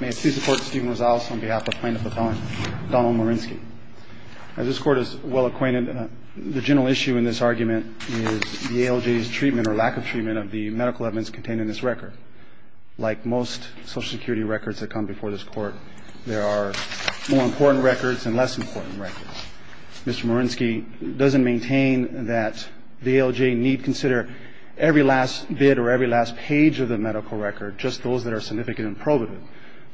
May it please the court, Stephen Rosales on behalf of plaintiff appellant Donald Morinsky. As this court is well acquainted, the general issue in this argument is the ALJ's treatment or lack of treatment of the medical evidence contained in this record. Like most social security records that come before this court, there are more important records and less important records. Mr. Morinsky doesn't maintain that the ALJ need consider every last bit or every last page of the medical record, just those that are significant and probative.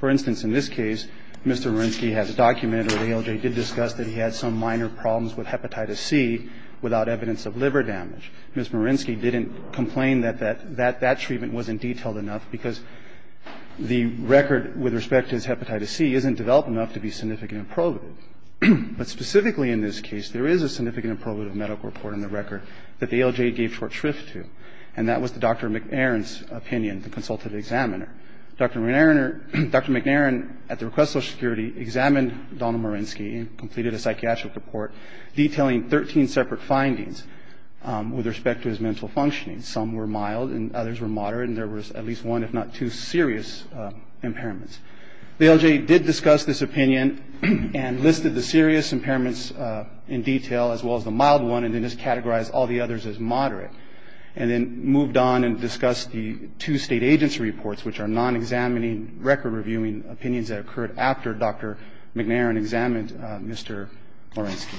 For instance, in this case, Mr. Morinsky has documented, or the ALJ did discuss, that he had some minor problems with hepatitis C without evidence of liver damage. Ms. Morinsky didn't complain that that treatment wasn't detailed enough because the record with respect to his hepatitis C isn't developed enough to be significant and probative. But specifically in this case, there is a significant and probative medical report in the record that the ALJ gave short shrift to, and that was Dr. McNairn's opinion, the consultative examiner. Dr. McNairn, at the request of social security, examined Donald Morinsky and completed a psychiatric report detailing 13 separate findings with respect to his mental functioning. Some were mild and others were moderate, and there was at least one, if not two, serious impairments. The ALJ did discuss this opinion and listed the serious impairments in detail as well as the mild one and then just categorized all the others as moderate. And then moved on and discussed the two state agency reports, which are non-examining record reviewing opinions that occurred after Dr. McNairn examined Mr. Morinsky.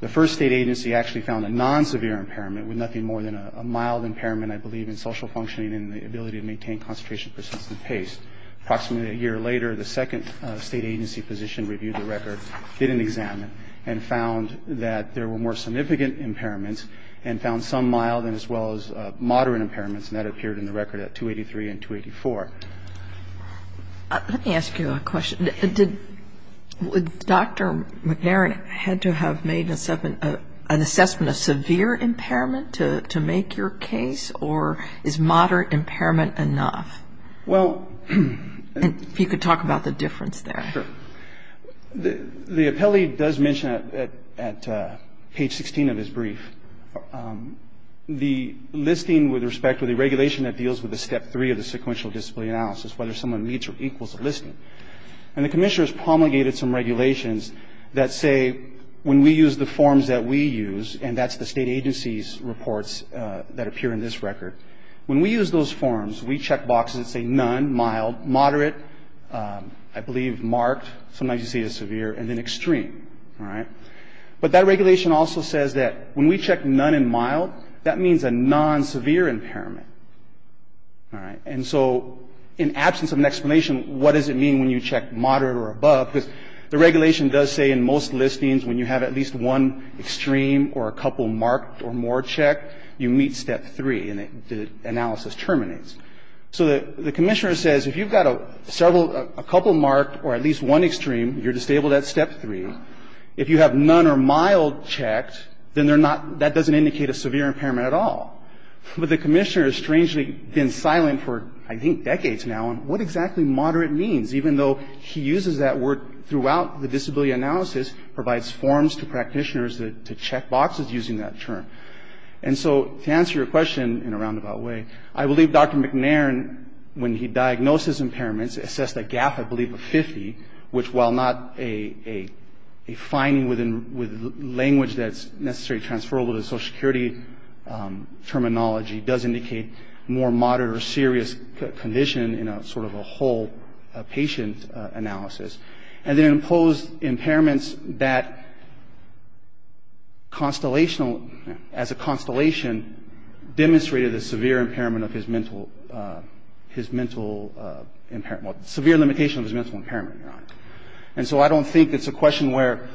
The first state agency actually found a non-severe impairment with nothing more than a mild impairment, I believe, in social functioning and the ability to maintain concentration at a persistent pace. Approximately a year later, the second state agency position reviewed the record, did an exam, and found that there were more significant impairments and found some mild as well as moderate impairments, and that appeared in the record at 283 and 284. Let me ask you a question. Did Dr. McNairn had to have made an assessment of severe impairment to make your case, or is moderate impairment enough? Well... If you could talk about the difference there. Sure. The appellee does mention at page 16 of his brief the listing with respect to the regulation that deals with the step three of the sequential discipline analysis, whether someone meets or equals a listing. And the commissioner has promulgated some regulations that say when we use the forms that we use, and that's the state agency's reports that appear in this record, when we use those forms, we check boxes that say none, mild, moderate, I believe marked, sometimes you see it as severe, and then extreme. But that regulation also says that when we check none and mild, that means a non-severe impairment. And so in absence of an explanation, what does it mean when you check moderate or above, because the regulation does say in most listings when you have at least one extreme or a couple marked or more checked, you meet step three and the analysis terminates. So the commissioner says if you've got several, a couple marked or at least one extreme, you're disabled at step three. If you have none or mild checked, then they're not, that doesn't indicate a severe impairment at all. But the commissioner has strangely been silent for, I think, decades now on what exactly moderate means, even though he uses that word throughout the disability analysis, provides forms to practitioners to check boxes using that term. And so to answer your question in a roundabout way, I believe Dr. McNairn, when he diagnosed his impairments, assessed a gap, I believe, of 50, which while not a finding with language that's necessarily transferable to Social Security terminology, does indicate more moderate or serious condition in a sort of a whole patient analysis. And then imposed impairments that constellational, as a constellation, demonstrated a severe impairment of his mental, his mental impairment, well, severe limitation of his mental impairment, Your Honor. And so I don't think it's a question where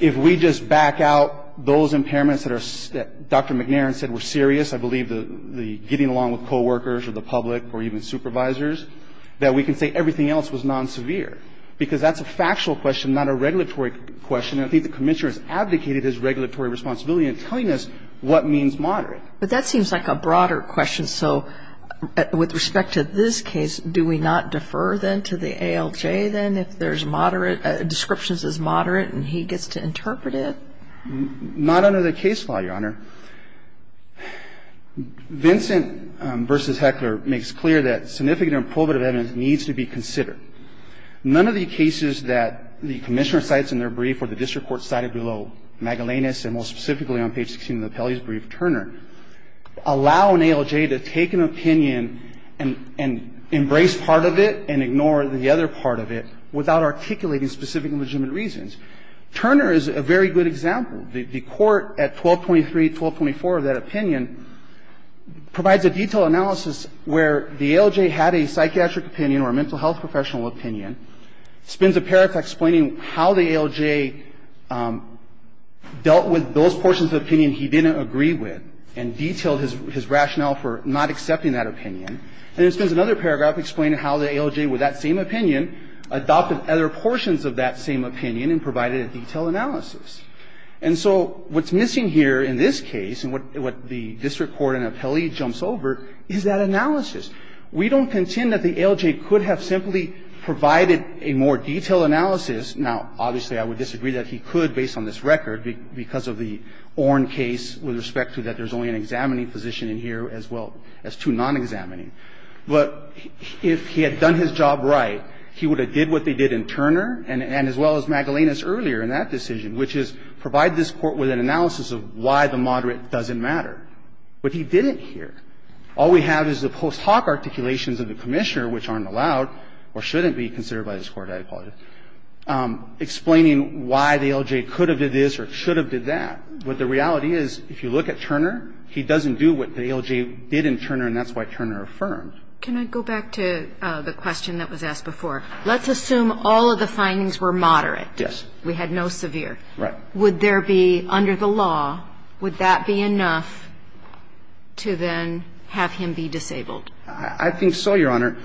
if we just back out those impairments that Dr. McNairn said were serious, I believe the getting along with coworkers or the public or even supervisors, that we can say everything else was non-severe. Because that's a factual question, not a regulatory question. And I think the commissioner has abdicated his regulatory responsibility in telling us what means moderate. But that seems like a broader question. So with respect to this case, do we not defer then to the ALJ then if there's moderate, descriptions as moderate, and he gets to interpret it? Not under the case law, Your Honor. Vincent v. Heckler makes clear that significant and probative evidence needs to be considered. None of the cases that the commissioner cites in their brief or the district court cited below Magellanes and more specifically on page 16 of the Pele's brief, Turner, allow an ALJ to take an opinion and embrace part of it and ignore the other part of it without articulating specific legitimate reasons. Turner is a very good example. The court at 1223, 1224 of that opinion provides a detailed analysis where the ALJ had a psychiatric opinion or a mental health professional opinion, spends a paragraph explaining how the ALJ dealt with those portions of opinion he didn't agree with and detailed his rationale for not accepting that opinion, and then spends another paragraph explaining how the ALJ with that same opinion adopted other portions of that same opinion and provided a detailed analysis. And so what's missing here in this case and what the district court in Apelli jumps over is that analysis. We don't contend that the ALJ could have simply provided a more detailed analysis. Now, obviously, I would disagree that he could based on this record because of the Orn case with respect to that there's only an examining position in here as well as two non-examining. But if he had done his job right, he would have did what they did in Turner and as well as Magellanus earlier in that decision, which is provide this Court with an analysis of why the moderate doesn't matter. But he didn't here. All we have is the post hoc articulations of the Commissioner, which aren't allowed or shouldn't be considered by this Court, I apologize, explaining why the ALJ could have did this or should have did that. But the reality is if you look at Turner, he doesn't do what the ALJ did in Turner and that's why Turner affirmed. Can I go back to the question that was asked before? Let's assume all of the findings were moderate. Yes. We had no severe. Right. Would there be under the law, would that be enough to then have him be disabled? I think so, Your Honor.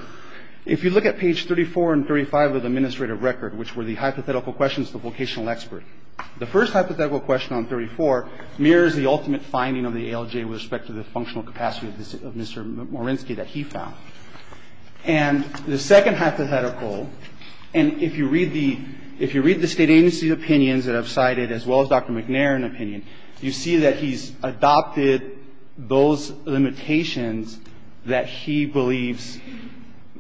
If you look at page 34 and 35 of the administrative record, which were the hypothetical questions, the vocational expert, the first hypothetical question on 34 mirrors the ultimate finding of the ALJ with respect to the functional capacity of Mr. Morinsky that he found. And the second hypothetical, and if you read the State Agency's opinions that I've cited as well as Dr. McNairn's opinion, you see that he's adopted those limitations that he believes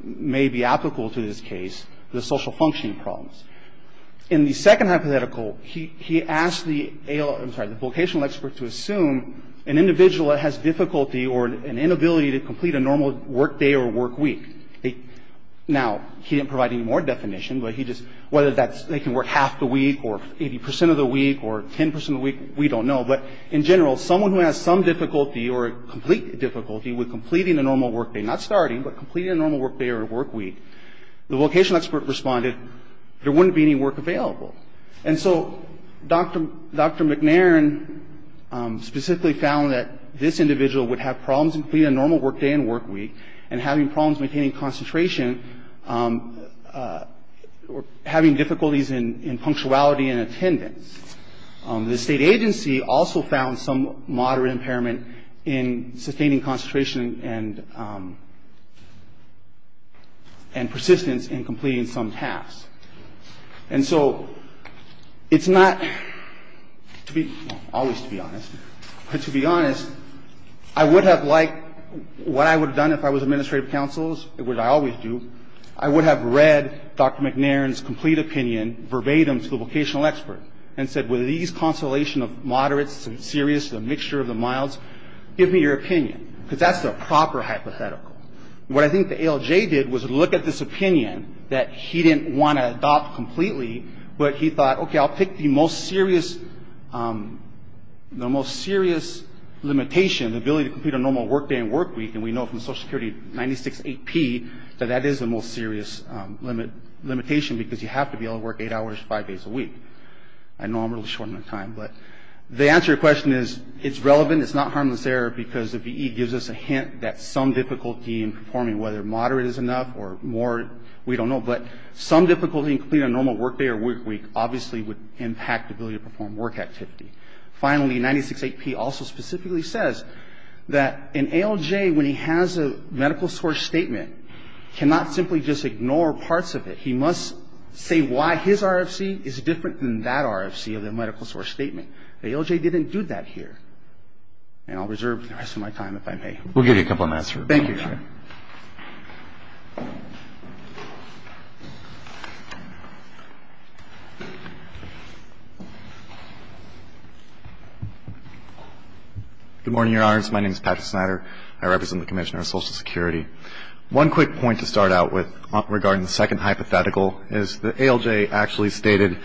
may be applicable to this case, the social functioning problems. In the second hypothetical, he asked the vocational expert to assume an individual that has difficulty or an inability to complete a normal work day or work week. Now, he didn't provide any more definition, but he just, whether that's they can work half the week or 80 percent of the week or 10 percent of the week, we don't know. But in general, someone who has some difficulty or complete difficulty with completing a normal work day, not starting, but completing a normal work day or work week, the vocational expert responded there wouldn't be any work available. And so Dr. McNairn specifically found that this individual would have problems completing a normal work day and work week and having problems maintaining concentration or having difficulties in punctuality and attendance. The State Agency also found some moderate impairment in sustaining concentration and persistence in completing some tasks. And so it's not, to be, always to be honest, but to be honest, I would have liked, what I would have done if I was administrative counsels, which I always do, I would have read Dr. McNairn's complete opinion verbatim to the vocational expert and said, with these consolation of moderate, serious, the mixture of the milds, give me your opinion, because that's the proper hypothetical. What I think the ALJ did was look at this opinion that he didn't want to adopt completely, but he thought, okay, I'll pick the most serious, the most serious limitation, the ability to complete a normal work day and work week, and we know from Social Security 96-8P that that is the most serious limitation, because you have to be able to work eight hours, five days a week. I know I'm really short on time, but the answer to your question is it's relevant, it's not harmless error, because the BE gives us a hint that some difficulty in performing, whether moderate is enough or more, we don't know, but some difficulty in completing a normal work day or work week obviously would impact ability to perform work activity. Finally, 96-8P also specifically says that an ALJ, when he has a medical source statement, cannot simply just ignore parts of it. He must say why his RFC is different than that RFC of the medical source statement. The ALJ didn't do that here. And I'll reserve the rest of my time if I may. We'll give you a couple of minutes. Thank you, Your Honor. Good morning, Your Honors. My name is Patrick Snyder. I represent the Commission on Social Security. One quick point to start out with regarding the second hypothetical is the ALJ actually stated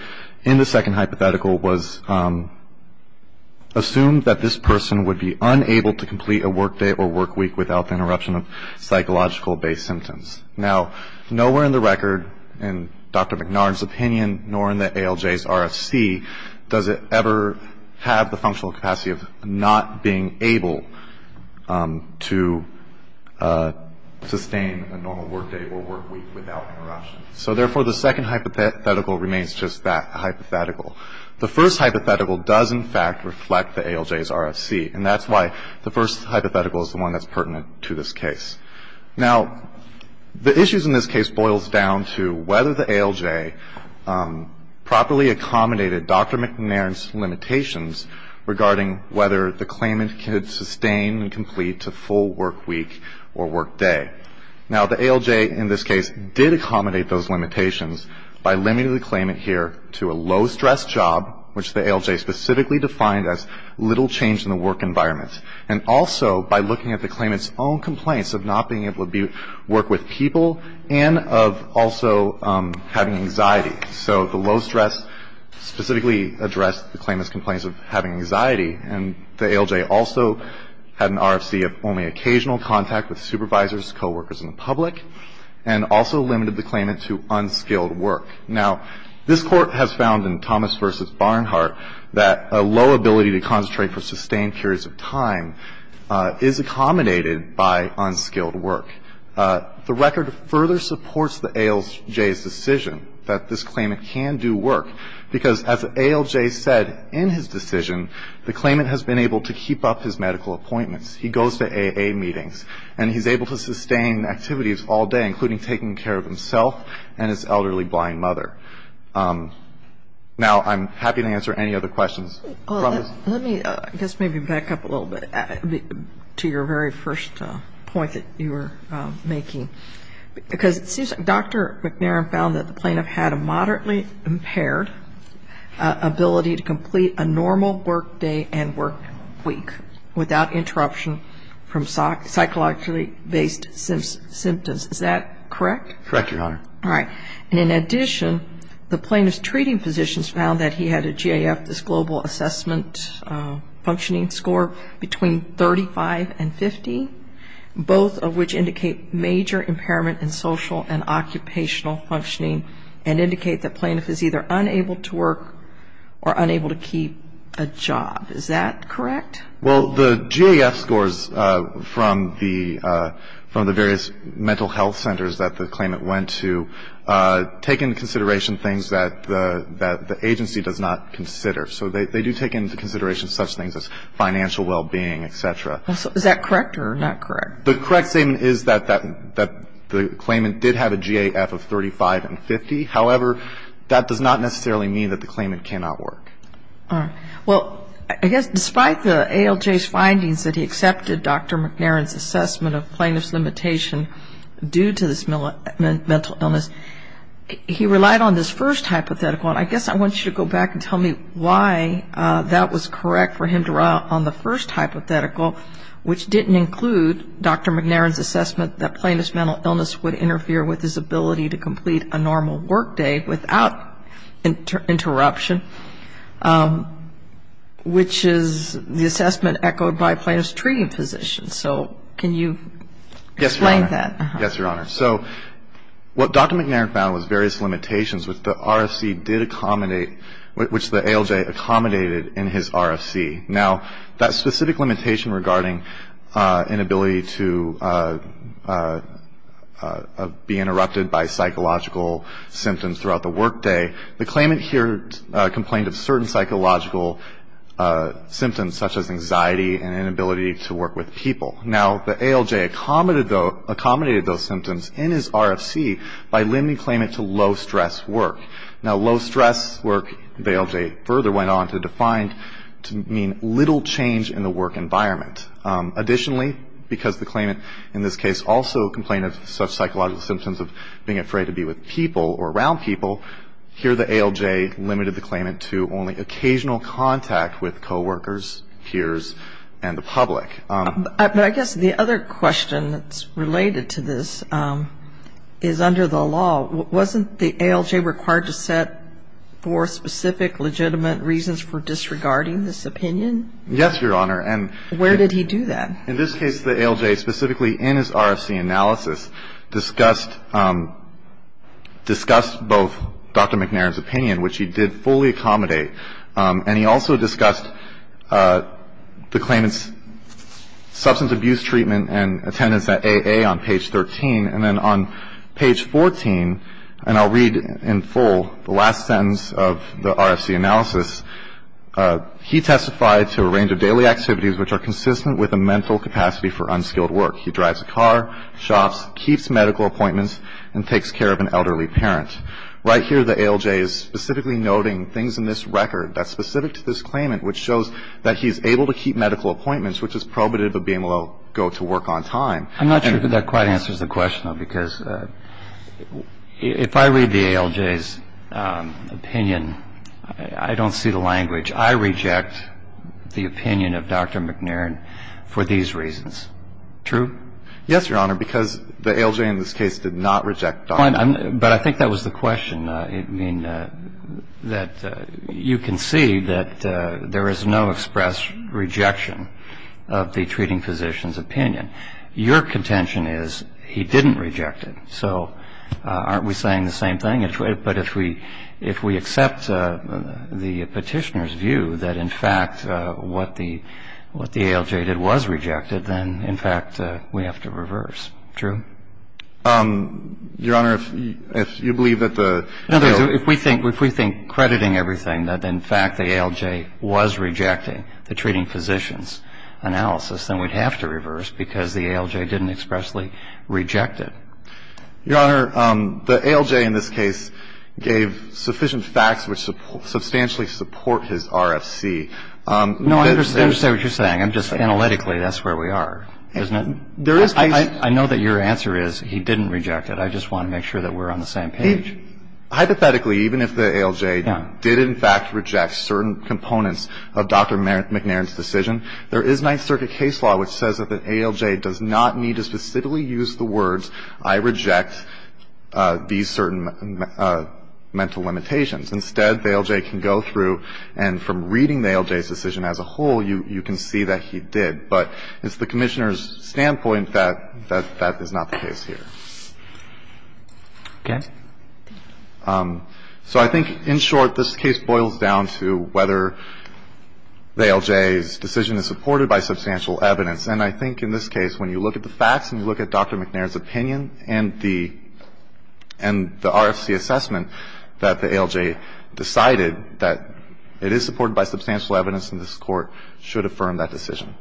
in the second hypothetical was assumed that this person would be unable to complete a work day or work week without the interruption of psychological-based symptoms. Now, nowhere in the record, in Dr. McNard's opinion, nor in the ALJ's RFC, does it ever have the functional capacity of not being able to sustain a normal work day or work week without interruption. So, therefore, the second hypothetical remains just that hypothetical. The first hypothetical does, in fact, reflect the ALJ's RFC. And that's why the first hypothetical is the one that's pertinent to this case. Now, the issues in this case boils down to whether the ALJ properly accommodated Dr. McNard's limitations regarding whether the claimant could sustain and complete a full work week or work day. Now, the ALJ in this case did accommodate those limitations by limiting the claimant here to a low-stress job, which the ALJ specifically defined as little change in the work environment, and also by looking at the claimant's own complaints of not being able to work with people and of also having anxiety. So the low stress specifically addressed the claimant's complaints of having anxiety, and the ALJ also had an RFC of only occasional contact with supervisors, coworkers, and the public, and also limited the claimant to unskilled work. Now, this Court has found in Thomas v. Barnhart that a low ability to concentrate for sustained periods of time is accommodated by unskilled work. The record further supports the ALJ's decision that this claimant can do work, because as ALJ said in his decision, the claimant has been able to keep up his medical appointments. He goes to AA meetings, and he's able to sustain activities all day, including taking care of himself and his elderly blind mother. Now, I'm happy to answer any other questions. Let me, I guess, maybe back up a little bit to your very first point that you were making, because it seems Dr. McNairn found that the plaintiff had a moderately impaired ability to complete a normal work day and work week without interruption from psychologically-based symptoms. Is that correct? Correct, Your Honor. All right. And in addition, the plaintiff's treating physicians found that he had a GAF, this global assessment functioning score, between 35 and 50, both of which indicate major impairment in social and occupational functioning and indicate the plaintiff is either unable to work or unable to keep a job. Is that correct? Well, the GAF scores from the various mental health centers that the claimant went to take into consideration things that the agency does not consider. So they do take into consideration such things as financial well-being, et cetera. Is that correct or not correct? The correct statement is that the claimant did have a GAF of 35 and 50. However, that does not necessarily mean that the claimant cannot work. All right. Well, I guess despite the ALJ's findings that he accepted Dr. McNairn's assessment of plaintiff's limitation due to this mental illness, he relied on this first hypothetical. And I guess I want you to go back and tell me why that was correct for him to rely on the first hypothetical, which didn't include Dr. McNairn's assessment that plaintiff's mental illness would interfere with his ability to complete a normal workday without interruption, which is the assessment echoed by plaintiff's treating physicians. So can you explain that? Yes, Your Honor. Yes, Your Honor. So what Dr. McNairn found was various limitations which the RFC did accommodate, which the ALJ accommodated in his RFC. Now, that specific limitation regarding an ability to be interrupted by psychological symptoms throughout the workday, the claimant here complained of certain psychological symptoms such as anxiety and inability to work with people. Now, the ALJ accommodated those symptoms in his RFC by limiting claimant to low-stress work. Now, low-stress work, the ALJ further went on to define to mean little change in the work environment. Additionally, because the claimant in this case also complained of such psychological symptoms of being afraid to be with people or around people, here the ALJ limited the claimant to only occasional contact with coworkers, peers, and the public. But I guess the other question that's related to this is under the law, wasn't the ALJ required to set for specific legitimate reasons for disregarding this opinion? Yes, Your Honor. And where did he do that? In this case, the ALJ specifically in his RFC analysis discussed both Dr. McNairn's opinion, which he did fully accommodate, and he also discussed the claimant's substance abuse treatment and attendance at AA on page 13. And then on page 14, and I'll read in full the last sentence of the RFC analysis, he testified to a range of daily activities which are consistent with a mental capacity for unskilled work. He drives a car, shops, keeps medical appointments, and takes care of an elderly parent. Right here, the ALJ is specifically noting things in this record that's specific to this claimant which shows that he's able to keep medical appointments, which is probative of being able to go to work on time. I'm not sure that that quite answers the question, though, because if I read the ALJ's opinion, I don't see the language. I reject the opinion of Dr. McNairn for these reasons. True? Yes, Your Honor, because the ALJ in this case did not reject Dr. McNairn. But I think that was the question. I mean, that you can see that there is no express rejection of the treating physician's opinion. Your contention is he didn't reject him. So aren't we saying the same thing? But if we accept the Petitioner's view that, in fact, what the ALJ did was rejected, then, in fact, we have to reverse. True? Your Honor, if you believe that the ---- In other words, if we think crediting everything that, in fact, the ALJ was rejecting the treating physician's analysis, then we'd have to reverse because the ALJ didn't expressly reject it. Your Honor, the ALJ in this case gave sufficient facts which substantially support his RFC. No, I understand what you're saying. I'm just analytically, that's where we are, isn't it? There is ---- I know that your answer is he didn't reject it. I just want to make sure that we're on the same page. Hypothetically, even if the ALJ did, in fact, reject certain components of Dr. McNairn's decision, there is Ninth Circuit case law which says that the ALJ does not need to specifically use the words, I reject these certain mental limitations. Instead, the ALJ can go through, and from reading the ALJ's decision as a whole, you can see that he did. But it's the Commissioner's standpoint that that is not the case here. Okay. So I think, in short, this case boils down to whether the ALJ's decision is supported by substantial evidence. And I think in this case, when you look at the facts and you look at Dr. McNairn's opinion and the RFC assessment that the ALJ decided that it is supported by substantial evidence in this Court, it should affirm that decision.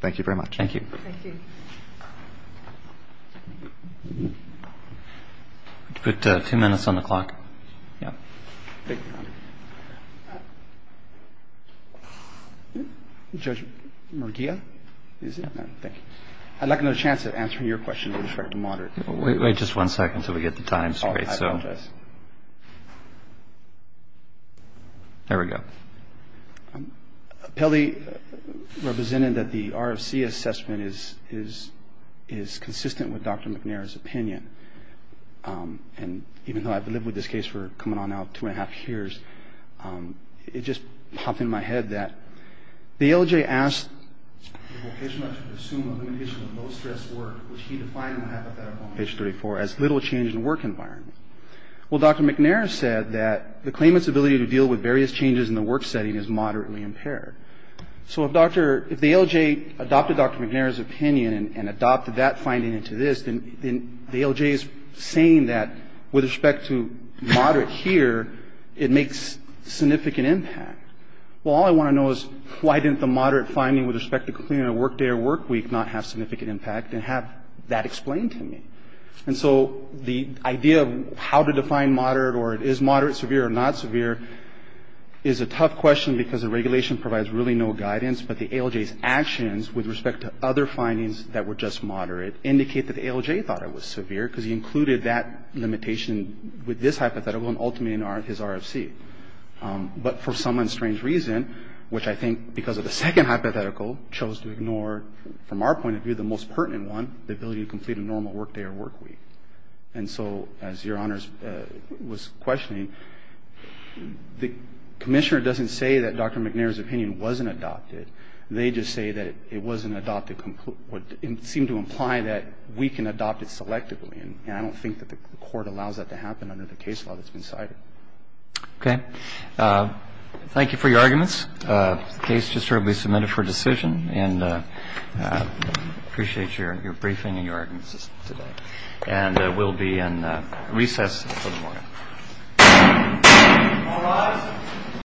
Thank you very much. Thank you. Thank you. We have two minutes on the clock. Thank you, Your Honor. Judge Murguia, is it? Thank you. I'd like another chance at answering your question with respect to moderate. Wait just one second until we get the time. I apologize. There we go. Pelli represented that the RFC assessment is consistent with Dr. McNairn's opinion. And even though I've lived with this case for coming on now two and a half years, it just popped into my head that the ALJ asked the Vocational Nurse to assume a limitation of low-stress work, which she defined in the hypothetical on page 34, as little change in work environment. Well, Dr. McNairn said that the claimant's ability to deal with various changes in the work setting is moderately impaired. So if Dr. — if the ALJ adopted Dr. McNairn's opinion and adopted that finding into this, then the ALJ is saying that with respect to moderate here, it makes significant impact. Well, all I want to know is why didn't the moderate finding with respect to cleaning a work day or work week not have significant impact and have that explained to me? And so the idea of how to define moderate or is moderate severe or not severe is a tough question because the regulation provides really no guidance, but the ALJ's actions with respect to other findings that were just moderate indicate that the ALJ thought it was severe because he included that limitation with this hypothetical and ultimately in his RFC. But for some unstrange reason, which I think because of the second hypothetical, chose to ignore, from our point of view, the most pertinent one, the ability to complete a normal work day or work week. And so as Your Honors was questioning, the Commissioner doesn't say that Dr. McNairn's opinion wasn't adopted. They just say that it wasn't adopted completely. It seemed to imply that we can adopt it selectively, and I don't think that the Court allows that to happen under the case law that's been cited. Okay. Thank you for your arguments. The case just shortly submitted for decision, and I appreciate your briefing and your arguments today. And we'll be in recess until tomorrow. All rise.